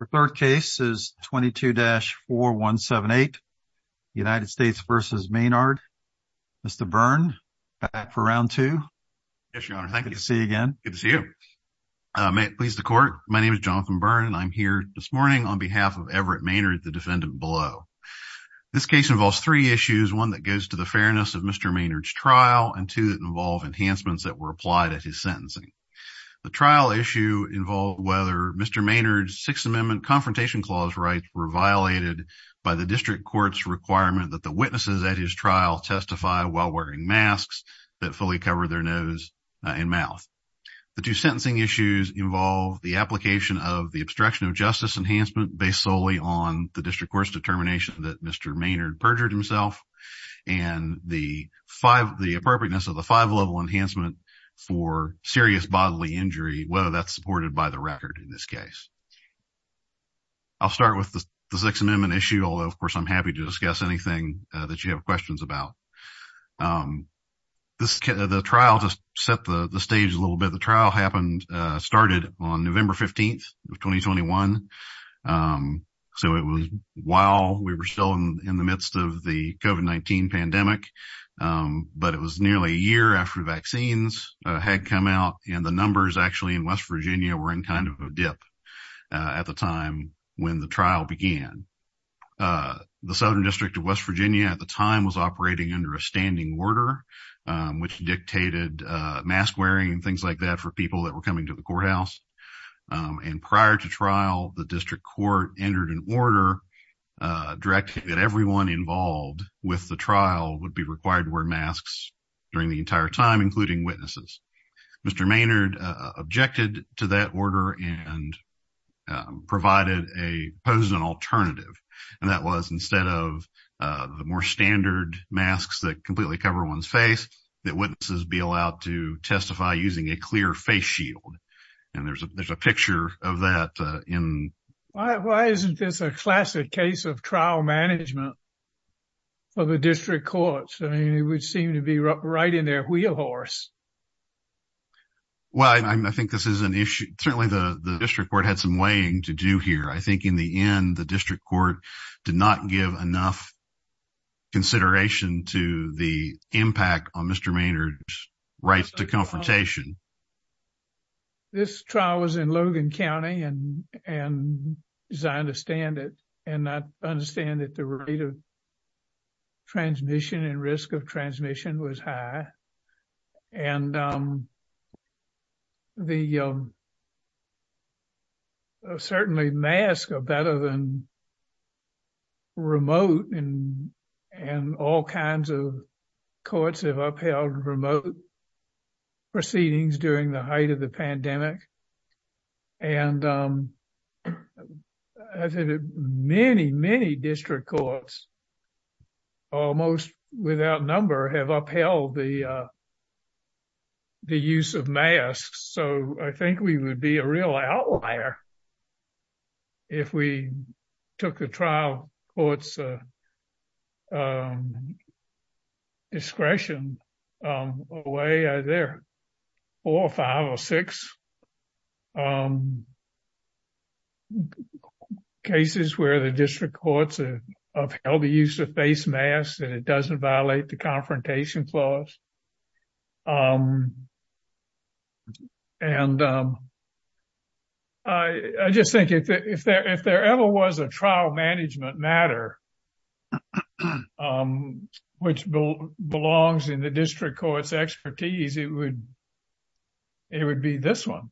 The third case is 22-4178, United States v. Maynard. Mr. Byrne, back for round two. Yes, your honor. Thank you. Good to see you again. Good to see you. May it please the court, my name is Jonathan Byrne and I'm here this morning on behalf of Everett Maynard, the defendant below. This case involves three issues, one that goes to the fairness of Mr. Maynard's trial and two that involve enhancements that were applied at his sentencing. The trial issue involved whether Mr. Maynard's Sixth Amendment Confrontation Clause rights were violated by the district court's requirement that the witnesses at his trial testify while wearing masks that fully cover their nose and mouth. The two sentencing issues involve the application of the obstruction of justice enhancement based solely on the district court's determination that Mr. Byrne should be given the appropriateness of the five level enhancement for serious bodily injury, whether that's supported by the record in this case. I'll start with the Sixth Amendment issue, although of course I'm happy to discuss anything that you have questions about. The trial just set the stage a little bit. The trial happened, started on November 15th of 2021. So it was while we were still in the midst of the COVID-19 pandemic, but it was nearly a year after vaccines had come out and the numbers actually in West Virginia were in kind of a dip at the time when the trial began. The Southern District of West Virginia at the time was operating under a standing order, which dictated mask wearing and things like that for people that were coming to the courthouse. And prior to trial, the district court entered an order directing that everyone involved with the trial would be required to wear masks during the entire time, including witnesses. Mr. Maynard objected to that order and provided a pose an alternative. And that was instead of the more standard masks that completely cover one's face, that witnesses be allowed to testify using a clear face shield. And there's a picture of that in. Why isn't this a classic case of trial management for the district courts? I mean, it would seem to be right in their wheelhorse. Well, I think this is an issue. Certainly the district court had some weighing to do here. I think in the end, the district court did not give enough consideration to the impact on Mr. Maynard's rights to confrontation. This trial was in Logan County, and as I understand it, and I understand that the rate of transmission and risk of transmission was high. And the certainly masks are better than remote and all kinds of courts have upheld remote proceedings during the height of the pandemic. And many, many district courts, almost without number, have upheld the use of masks. So I think we would be a real outlier. If we took the trial court's discretion away, there are four or five or six cases where the district courts have held the use of face masks and it doesn't violate the confrontation clause. And I just think if there ever was a trial management matter which belongs in the district court's expertise, it would be this one.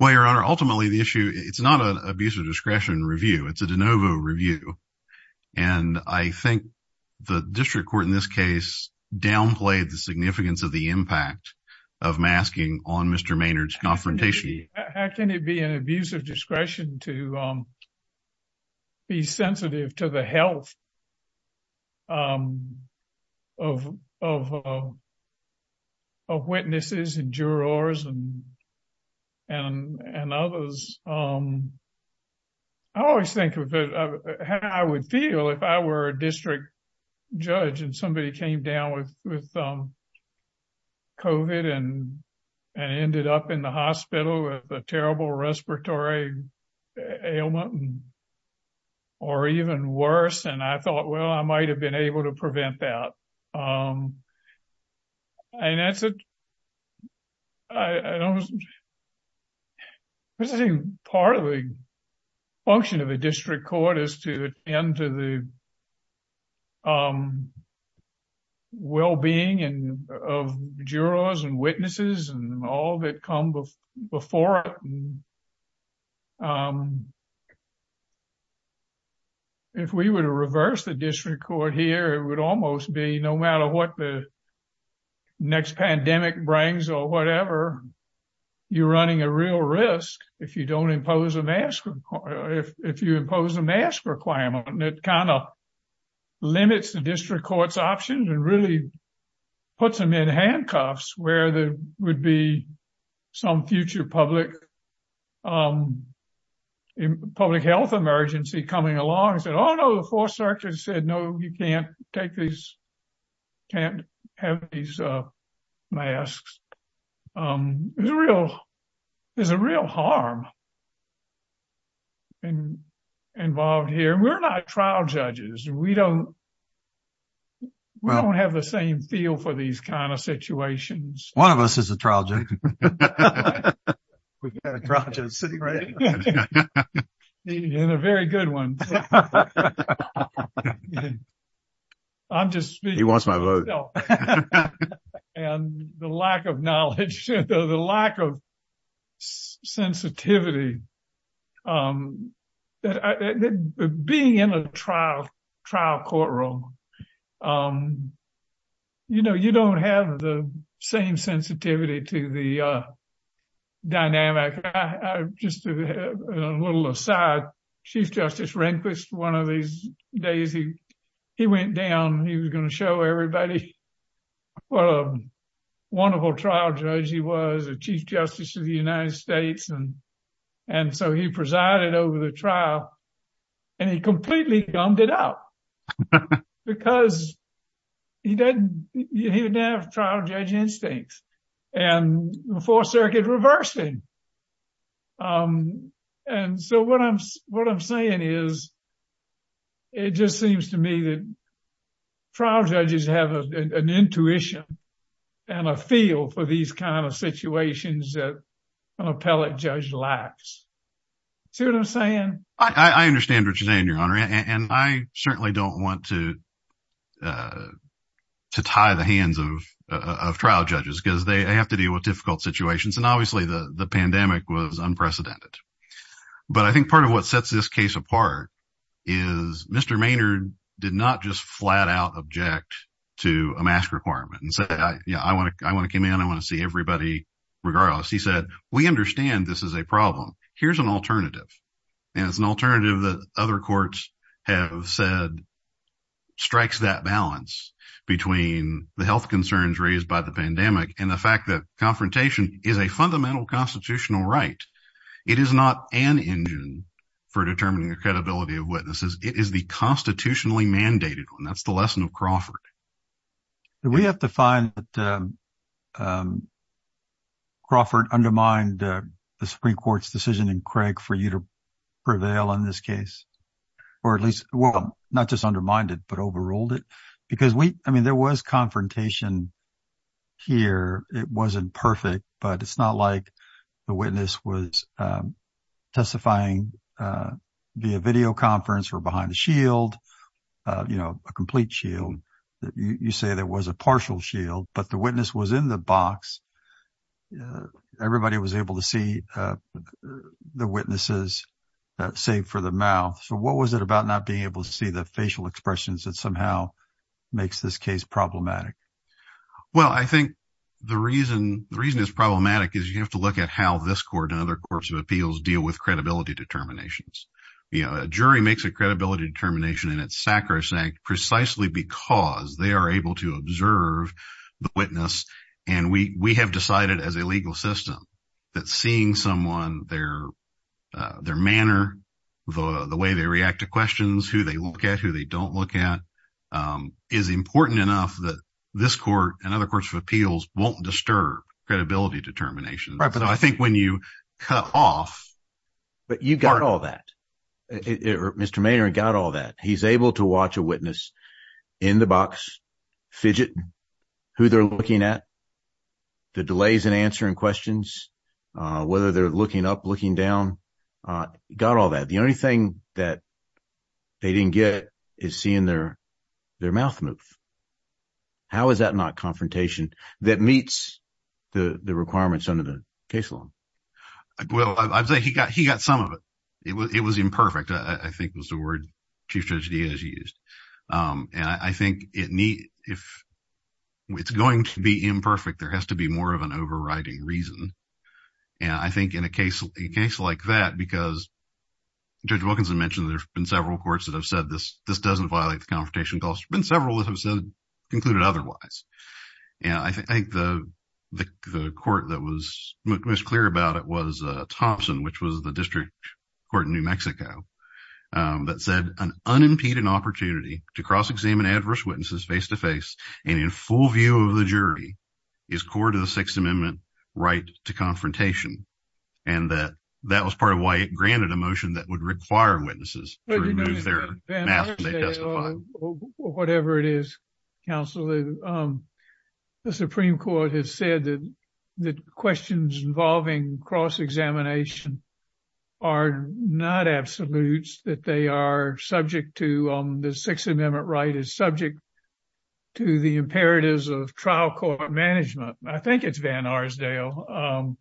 Well, Your Honor, ultimately the issue, it's not an abuse of discretion review. It's a de novo review. And I think the district court in this case downplayed the significance of the impact of masking on Mr. Maynard's confrontation. How can it be an abuse of discretion to be sensitive to the health of witnesses and jurors and others? I always think of how I would feel if I were a district judge and somebody came down with COVID and ended up in the hospital with a terrible respiratory ailment or even worse. And I thought, well, I might have been able to prevent that. And I think part of the function of a district court is to attend to the well-being of jurors and witnesses and all that come before it. If we were to reverse the district court here, it would almost be no matter what the next pandemic brings or whatever, you're running a real risk if you don't impose a mask, if you impose a mask requirement. And it kind of limits the district court's options and really puts them in handcuffs where there would be some future public health emergency coming along and said, oh, no, the 4th Circuit said, no, you can't take these, can't have these masks. There's a real harm involved here. We're not trial judges. We don't have the same feel for these kind of situations. One of us is a trial judge. We've got a trial judge sitting right here. And a very good one. I'm just speaking for myself. He wants my vote. And the lack of knowledge, the lack of sensitivity, being in a trial courtroom, you know, you don't have the same sensitivity to the dynamic. Just a little aside, Chief Justice Rehnquist, one of these days, he went down. He was going to show everybody what a wonderful trial judge he was, the Chief Justice of the United States. And so he presided over the trial and he completely gummed it up because he didn't have trial judge instincts. And the 4th Circuit reversed him. And so what I'm saying is, it just seems to me that trial judges have an intuition and a feel for these kind of situations that an appellate judge lacks. I understand what you're saying, Your Honor. And I certainly don't want to tie the hands of trial judges because they have to deal with difficult situations. And obviously, the pandemic was unprecedented. But I think part of what sets this case apart is Mr. Maynard did not just flat-out object to a mask requirement and said, yeah, I want to come in. I want to see everybody regardless. He said, we understand this is a problem. Here's an alternative. And it's an alternative that other courts have said strikes that balance between the health concerns raised by the pandemic and the fact that confrontation is a fundamental constitutional right. It is not an engine for determining the credibility of witnesses. It is the constitutionally mandated one. That's the lesson of Crawford. Do we have to find that Crawford undermined the Supreme Court's decision in Craig for you to prevail in this case? Or at least, well, not just undermined it, but overruled it? Because we, I mean, there was confrontation here. It wasn't perfect, but it's not like the witness was testifying via videoconference or behind the shield, you know, a complete shield. You say there was a partial shield, but the witness was in the box. Everybody was able to see the witnesses, save for the mouth. So what was it about not being able to see the facial expressions that somehow makes this case problematic? Well, I think the reason is problematic is you have to look at how this court and other courts of appeals deal with credibility determinations. You know, a jury makes a credibility determination and it's sacrosanct precisely because they are able to observe the witness. And we have decided as a legal system that seeing someone, their manner, the way they react to questions, who they look at, who they don't look at, is important enough that this court and other courts of appeals won't disturb credibility determinations. I think when you cut off. But you got all that. Mr. Maynard got all that. He's able to watch a witness in the box, fidget, who they're looking at, the delays in answering questions, whether they're looking up, looking down, got all that. The only thing that they didn't get is seeing their mouth move. How is that not confrontation that meets the requirements under the case law? Well, I think he got he got some of it. It was it was imperfect. I think was the word to judge Diaz used. And I think it need if it's going to be imperfect, there has to be more of an overriding reason. And I think in a case, a case like that, because. Judges mentioned there's been several courts that have said this. This doesn't violate the confrontation. There's been several that have concluded otherwise. And I think the court that was most clear about it was Thompson, which was the district court in New Mexico that said an unimpeded opportunity to cross-examine adverse witnesses face to face. And in full view of the jury, is court of the Sixth Amendment right to confrontation? And that that was part of why it granted a motion that would require witnesses to remove their mask when they testify. Whatever it is, counsel, the Supreme Court has said that the questions involving cross-examination are not absolutes. That they are subject to the Sixth Amendment right is subject to the imperatives of trial court management. I think it's Van Arsdale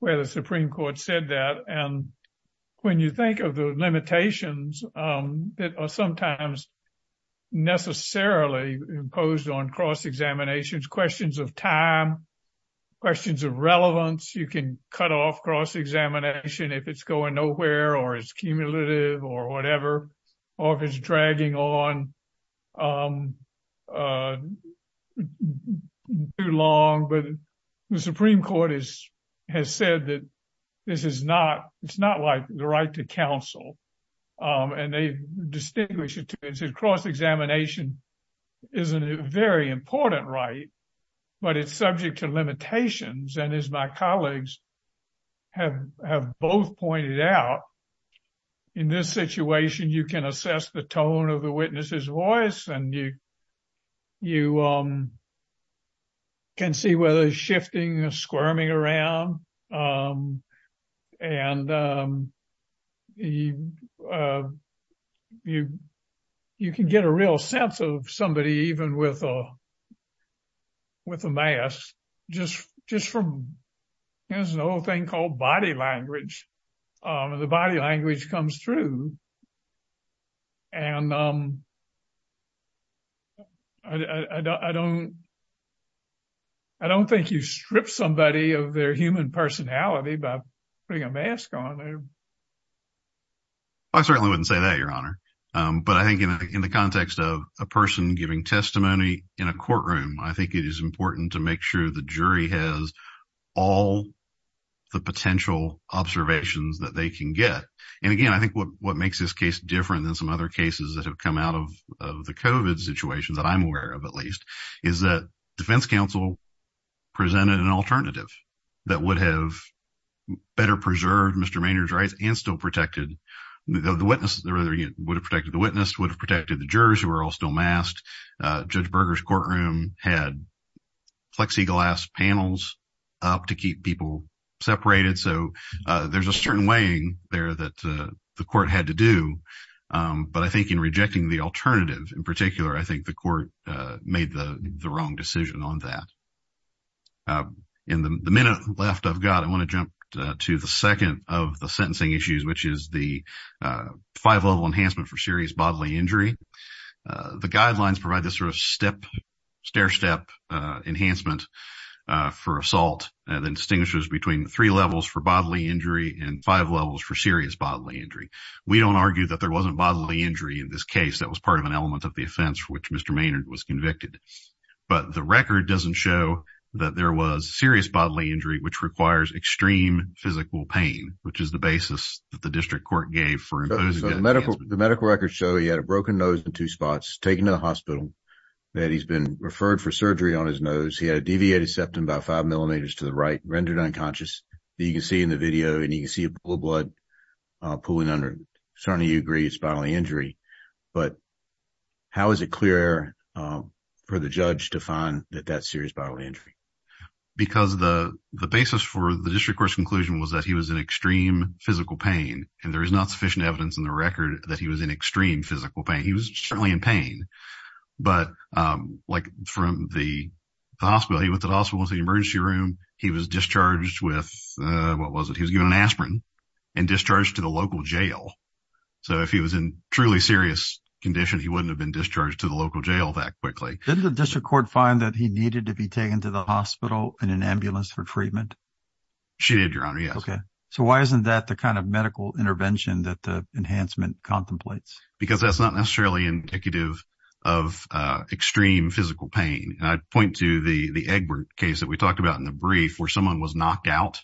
where the Supreme Court said that. And when you think of the limitations that are sometimes necessarily imposed on cross-examinations, questions of time, questions of relevance. You can cut off cross-examination if it's going nowhere or it's cumulative or whatever. Or if it's dragging on too long. But the Supreme Court has said that this is not, it's not like the right to counsel. And they distinguish it to cross-examination is a very important right, but it's subject to limitations. And as my colleagues have both pointed out, in this situation, you can assess the tone of the witness's voice and you can see whether it's shifting or squirming around. And you can get a real sense of somebody even with a mask, just from, there's an old thing called body language. The body language comes through. And I don't, I don't think you strip somebody of their human personality by putting a mask on. I certainly wouldn't say that, Your Honor. But I think in the context of a person giving testimony in a courtroom, I think it is important to make sure the jury has all the potential observations that they can get. And again, I think what makes this case different than some other cases that have come out of the COVID situation, that I'm aware of at least, is that defense counsel presented an alternative that would have better preserved Mr. Maynard's rights and still protected the witness. Would have protected the witness, would have protected the jurors who were all still masked. Judge Berger's courtroom had plexiglass panels up to keep people separated. So there's a certain weighing there that the court had to do. But I think in rejecting the alternative in particular, I think the court made the wrong decision on that. In the minute left I've got, I want to jump to the second of the sentencing issues, which is the five-level enhancement for serious bodily injury. The guidelines provide this sort of step, stair-step enhancement for assault that distinguishes between three levels for bodily injury and five levels for serious bodily injury. We don't argue that there wasn't bodily injury in this case. That was part of an element of the offense for which Mr. Maynard was convicted. But the record doesn't show that there was serious bodily injury, which requires extreme physical pain, which is the basis that the district court gave for imposing that enhancement. So the medical records show he had a broken nose in two spots, taken to the hospital, that he's been referred for surgery on his nose. He had a deviated septum about five millimeters to the right, rendered unconscious, that you can see in the video, and you can see a pool of blood pooling under it. Certainly you agree it's bodily injury. But how is it clear for the judge to find that that's serious bodily injury? Because the basis for the district court's conclusion was that he was in extreme physical pain. And there is not sufficient evidence in the record that he was in extreme physical pain. He was certainly in pain, but like from the hospital, he went to the hospital to the emergency room. He was discharged with, what was it, he was given an aspirin and discharged to the local jail. So if he was in truly serious condition, he wouldn't have been discharged to the local jail that quickly. Didn't the district court find that he needed to be taken to the hospital in an ambulance for treatment? She did, Your Honor, yes. Okay. So why isn't that the kind of medical intervention that the enhancement contemplates? Because that's not necessarily indicative of extreme physical pain. And I'd point to the Egbert case that we talked about in the brief where someone was knocked out.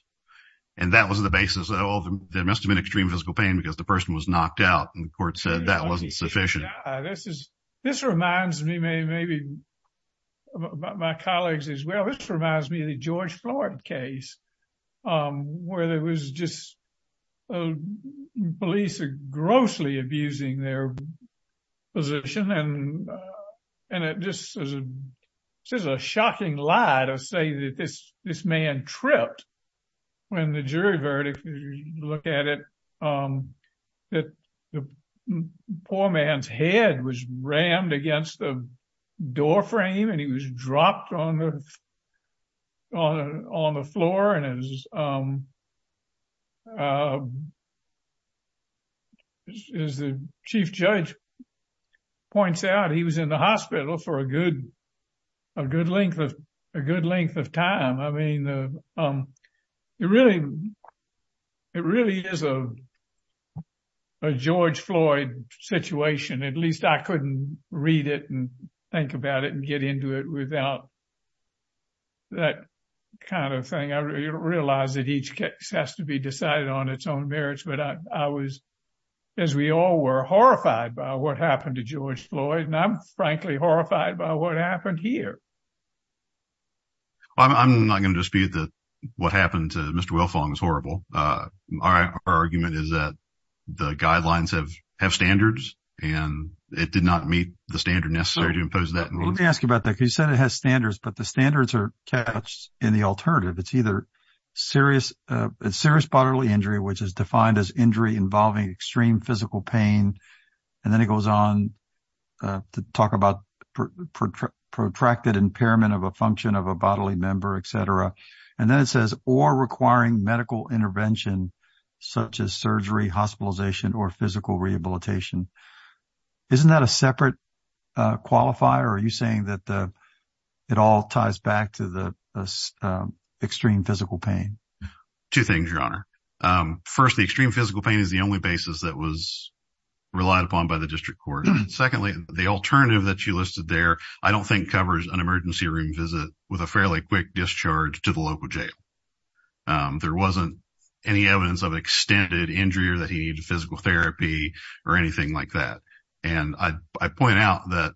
And that was the basis. Oh, there must have been extreme physical pain because the person was knocked out. And the court said that wasn't sufficient. This reminds me maybe about my colleagues as well. This reminds me of the George Floyd case where there was just police grossly abusing their position. And it just is a shocking lie to say that this man tripped when the jury verdict, if you look at it, that the poor man's head was rammed against the doorframe and he was dropped on the floor. And as the chief judge points out, he was in the hospital for a good length of time. I mean, it really is a George Floyd situation. At least I couldn't read it and think about it and get into it without that kind of thing. I realize that each case has to be decided on its own merits. But I was, as we all were, horrified by what happened to George Floyd. And I'm frankly horrified by what happened here. I'm not going to dispute that what happened to Mr. Wilfong is horrible. Our argument is that the guidelines have standards and it did not meet the standard necessary to impose that. Let me ask you about that because you said it has standards, but the standards are cached in the alternative. It's either serious bodily injury, which is defined as injury involving extreme physical pain. And then it goes on to talk about protracted impairment of a function of a bodily member, etc. And then it says or requiring medical intervention, such as surgery, hospitalization or physical rehabilitation. Isn't that a separate qualifier? Are you saying that it all ties back to the extreme physical pain? Two things, Your Honor. First, the extreme physical pain is the only basis that was relied upon by the district court. Secondly, the alternative that you listed there, I don't think covers an emergency room visit with a fairly quick discharge to the local jail. There wasn't any evidence of extended injury or that he needed physical therapy or anything like that. And I point out that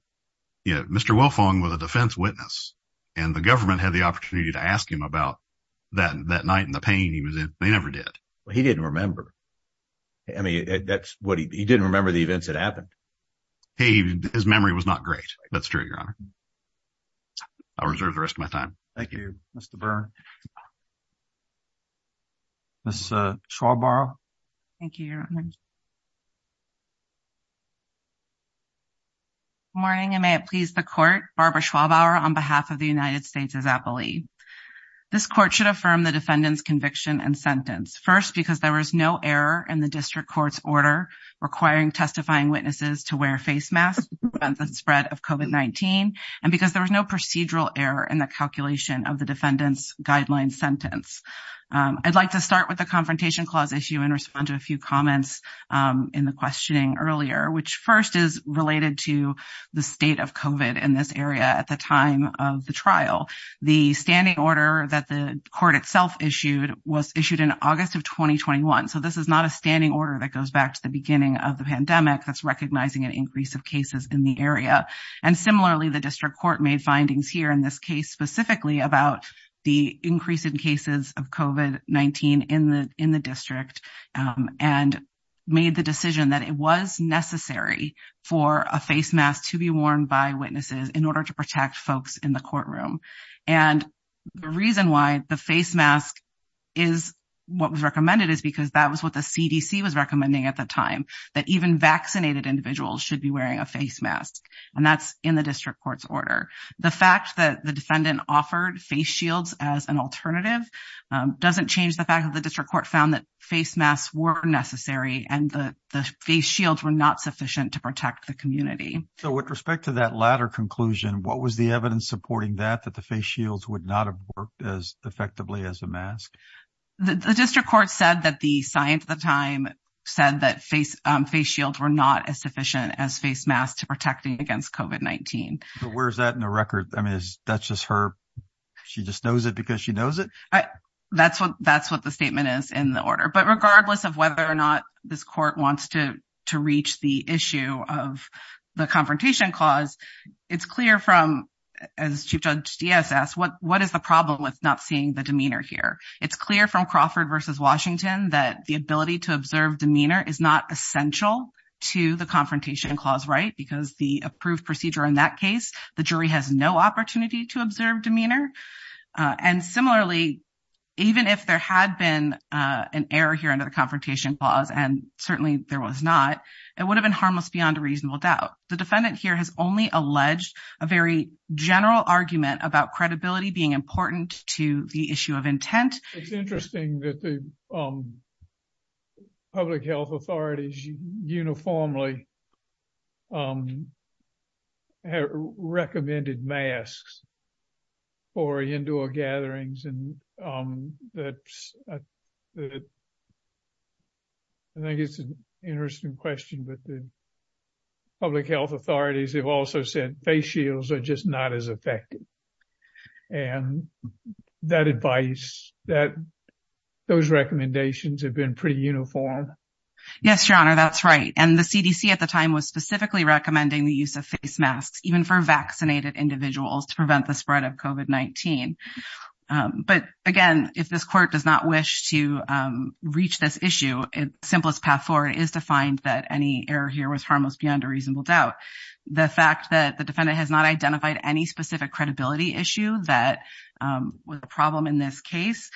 Mr. Wilfong was a defense witness and the government had the opportunity to ask him about that night and the pain he was in. They never did. He didn't remember. I mean, he didn't remember the events that happened. His memory was not great. That's true, Your Honor. I'll reserve the rest of my time. Thank you, Mr. Byrne. Ms. Schwalbauer? Thank you, Your Honor. Good morning, and may it please the court. Barbara Schwalbauer on behalf of the United States as appellee. This court should affirm the defendant's conviction and sentence. First, because there was no error in the district court's order requiring testifying witnesses to wear face masks to prevent the spread of COVID-19, and because there was no procedural error in the calculation of the defendant's guideline sentence. I'd like to start with the Confrontation Clause issue and respond to a few comments in the questioning earlier, which first is related to the state of COVID in this area at the time of the trial. The standing order that the court itself issued was issued in August of 2021. So this is not a standing order that goes back to the beginning of the pandemic that's recognizing an increase of cases in the area. And similarly, the district court made findings here in this case specifically about the increase in cases of COVID-19 in the district, and made the decision that it was necessary for a face mask to be worn by witnesses in order to protect folks in the courtroom. And the reason why the face mask is what was recommended is because that was what the CDC was recommending at the time, that even vaccinated individuals should be wearing a face mask, and that's in the district court's order. The fact that the defendant offered face shields as an alternative doesn't change the fact that the district court found that face masks were necessary, and the face shields were not sufficient to protect the community. So with respect to that latter conclusion, what was the evidence supporting that, that the face shields would not have worked as effectively as a mask? The district court said that the science at the time said that face shields were not as sufficient as face masks to protect against COVID-19. But where's that in the record? I mean, that's just her, she just knows it because she knows it? That's what the statement is in the order. But regardless of whether or not this court wants to reach the issue of the confrontation clause, it's clear from, as Chief Judge Diaz asked, what is the problem with not seeing the demeanor here? It's clear from Crawford v. Washington that the ability to observe demeanor is not essential to the confrontation clause, right? Because the approved procedure in that case, the jury has no opportunity to observe demeanor. And similarly, even if there had been an error here under the confrontation clause, and certainly there was not, it would have been harmless beyond a reasonable doubt. The defendant here has only alleged a very general argument about credibility being important to the issue of intent. It's interesting that the public health authorities uniformly recommended masks for indoor gatherings. I think it's an interesting question, but the public health authorities have also said face shields are just not as effective. And that advice, those recommendations have been pretty uniform. Yes, Your Honor, that's right. And the CDC at the time was specifically recommending the use of face masks, even for vaccinated individuals to prevent the spread of COVID-19. But again, if this court does not wish to reach this issue, simplest path forward is to find that any error here was harmless beyond a reasonable doubt. The fact that the defendant has not identified any specific credibility issue that was a problem in this case,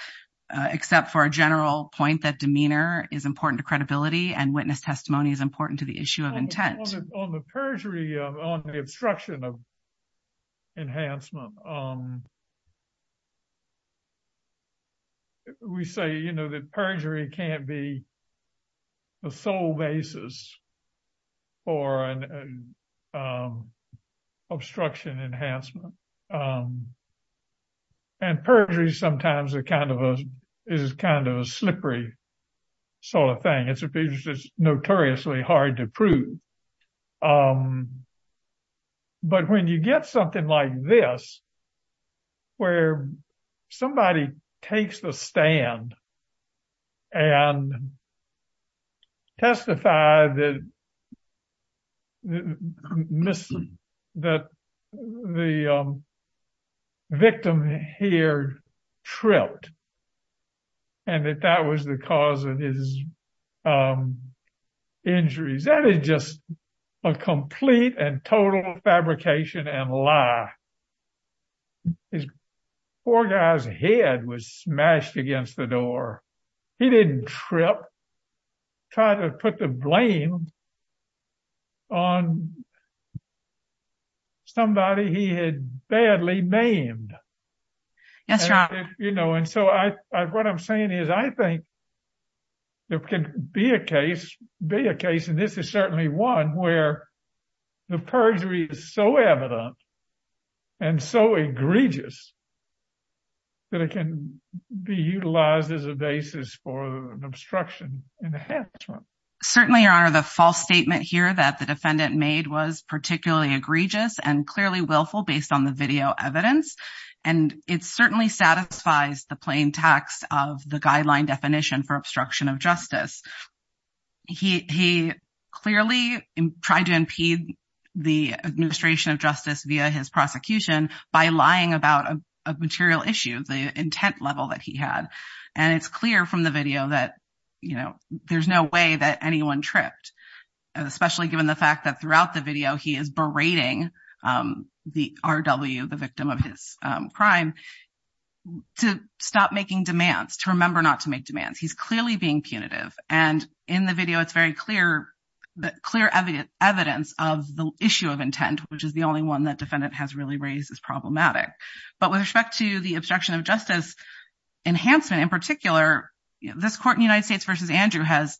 except for a general point that demeanor is important to credibility and witness testimony is important to the issue of intent. On the perjury, on the obstruction of enhancement, we say, you know, that perjury can't be the sole basis for an obstruction enhancement. And perjury sometimes is kind of a slippery sort of thing. It's notoriously hard to prove. But when you get something like this, where somebody takes the stand and testify that the victim here tripped and that that was the cause of his injuries, that is just a complete and total fabrication and lie. This poor guy's head was smashed against the door. He didn't trip. Try to put the blame on somebody he had badly maimed. You know, and so I what I'm saying is, I think. There can be a case, be a case, and this is certainly one where the perjury is so evident. And so egregious. That it can be utilized as a basis for an obstruction enhancement. Certainly, Your Honor, the false statement here that the defendant made was particularly egregious and clearly willful based on the video evidence. And it certainly satisfies the plain text of the guideline definition for obstruction of justice. He clearly tried to impede the administration of justice via his prosecution by lying about a material issue, the intent level that he had. And it's clear from the video that, you know, there's no way that anyone tripped, especially given the fact that throughout the video, he is berating the R.W., the victim of his crime, to stop making demands, to remember not to make demands. He's clearly being punitive. And in the video, it's very clear, clear evidence of the issue of intent, which is the only one that defendant has really raised as problematic. But with respect to the obstruction of justice enhancement in particular, this court in the United States versus Andrew has,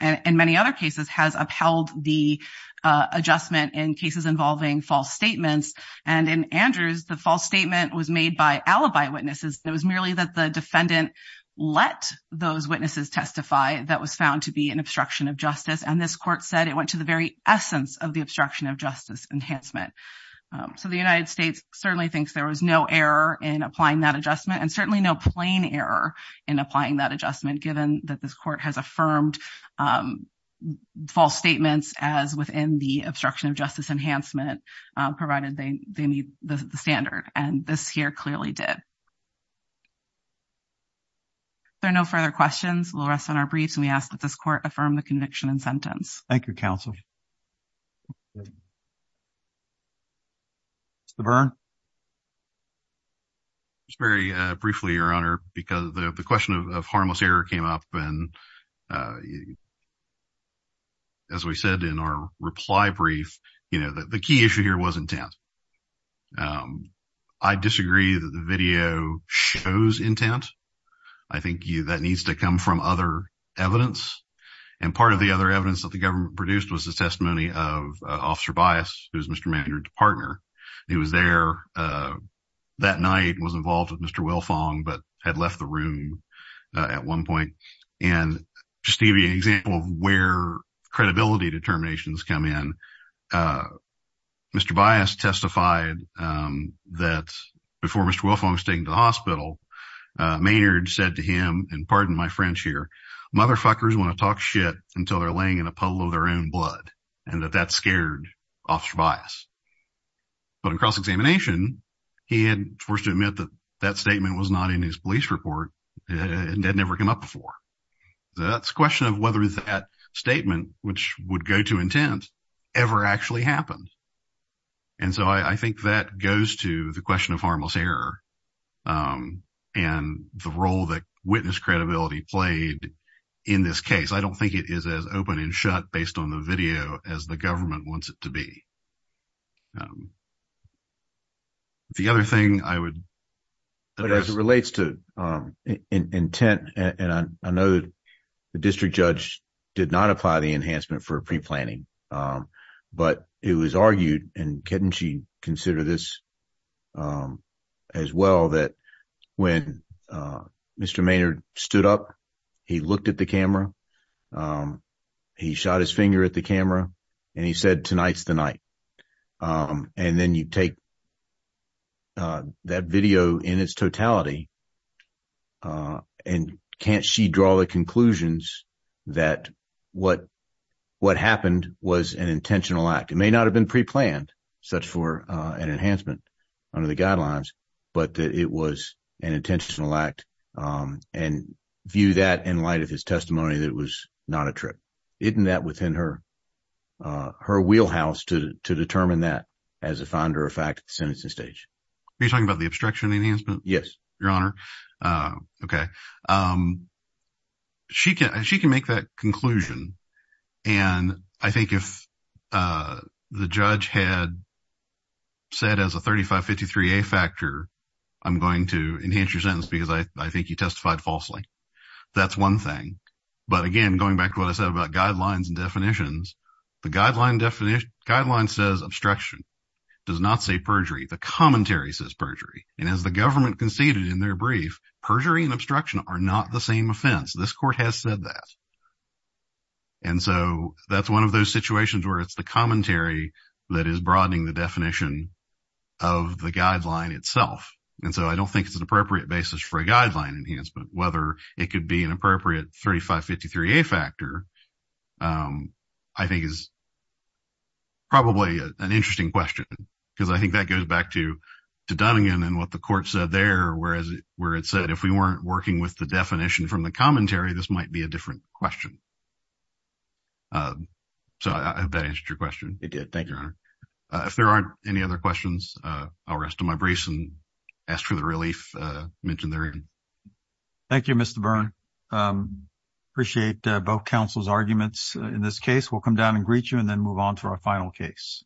in many other cases, has upheld the adjustment in cases involving false statements. And in Andrew's, the false statement was made by alibi witnesses. It was merely that the defendant let those witnesses testify that was found to be an obstruction of justice. And this court said it went to the very essence of the obstruction of justice enhancement. So the United States certainly thinks there was no error in applying that adjustment and certainly no plain error in applying that adjustment, given that this court has affirmed false statements as within the obstruction of justice enhancement, provided they meet the standard. And this here clearly did. There are no further questions. We'll rest on our briefs. We ask that this court affirm the conviction and sentence. Thank you, counsel. The burn. It's very briefly, Your Honor, because the question of harmless error came up and. As we said in our reply brief, you know, the key issue here was intent. I disagree that the video shows intent. I think that needs to come from other evidence. And part of the other evidence that the government produced was the testimony of officer bias. Who's Mr. Manager partner? He was there that night was involved with Mr. Well, Fong, but had left the room at one point. And just give you an example of where credibility determinations come in. Mr. Bias testified that before Mr. Well, if I'm staying in the hospital, Maynard said to him and pardon my French here, motherfuckers want to talk shit until they're laying in a puddle of their own blood and that that scared officer bias. But in cross-examination, he had forced to admit that that statement was not in his police report and had never come up before. That's a question of whether that statement, which would go to intent ever actually happened. And so I think that goes to the question of harmless error and the role that witness credibility played in this case. I don't think it is as open and shut based on the video as the government wants it to be. The other thing I would. But as it relates to intent, and I know the district judge did not apply the enhancement for pre-planning, but it was argued. And can she consider this as well that when Mr. Maynard stood up, he looked at the camera, he shot his finger at the camera, and he said, tonight's the night. And then you take that video in its totality. And can't she draw the conclusions that what what happened was an intentional act? It may not have been pre-planned such for an enhancement under the guidelines, but it was an intentional act. And view that in light of his testimony, that was not a trip. Isn't that within her, her wheelhouse to determine that as a finder of fact sentencing stage? Are you talking about the obstruction enhancement? Yes, Your Honor. OK. She can she can make that conclusion. And I think if the judge had. Said as a thirty five fifty three a factor, I'm going to enhance your sentence because I think you testified falsely. That's one thing. But again, going back to what I said about guidelines and definitions, the guideline definition guideline says obstruction does not say perjury. The commentary says perjury. And as the government conceded in their brief, perjury and obstruction are not the same offense. This court has said that. And so that's one of those situations where it's the commentary that is broadening the definition of the guideline itself. And so I don't think it's an appropriate basis for a guideline enhancement, whether it could be an appropriate thirty five fifty three a factor. I think is. Probably an interesting question, because I think that goes back to to Dunnigan and what the court said there, whereas where it said if we weren't working with the definition from the commentary, this might be a different question. So I hope that answered your question. It did. Thank you, Your Honor. If there aren't any other questions, I'll rest of my briefs and ask for the relief mentioned there. Thank you, Mr. Byrne. Appreciate both counsel's arguments. In this case, we'll come down and greet you and then move on to our final case.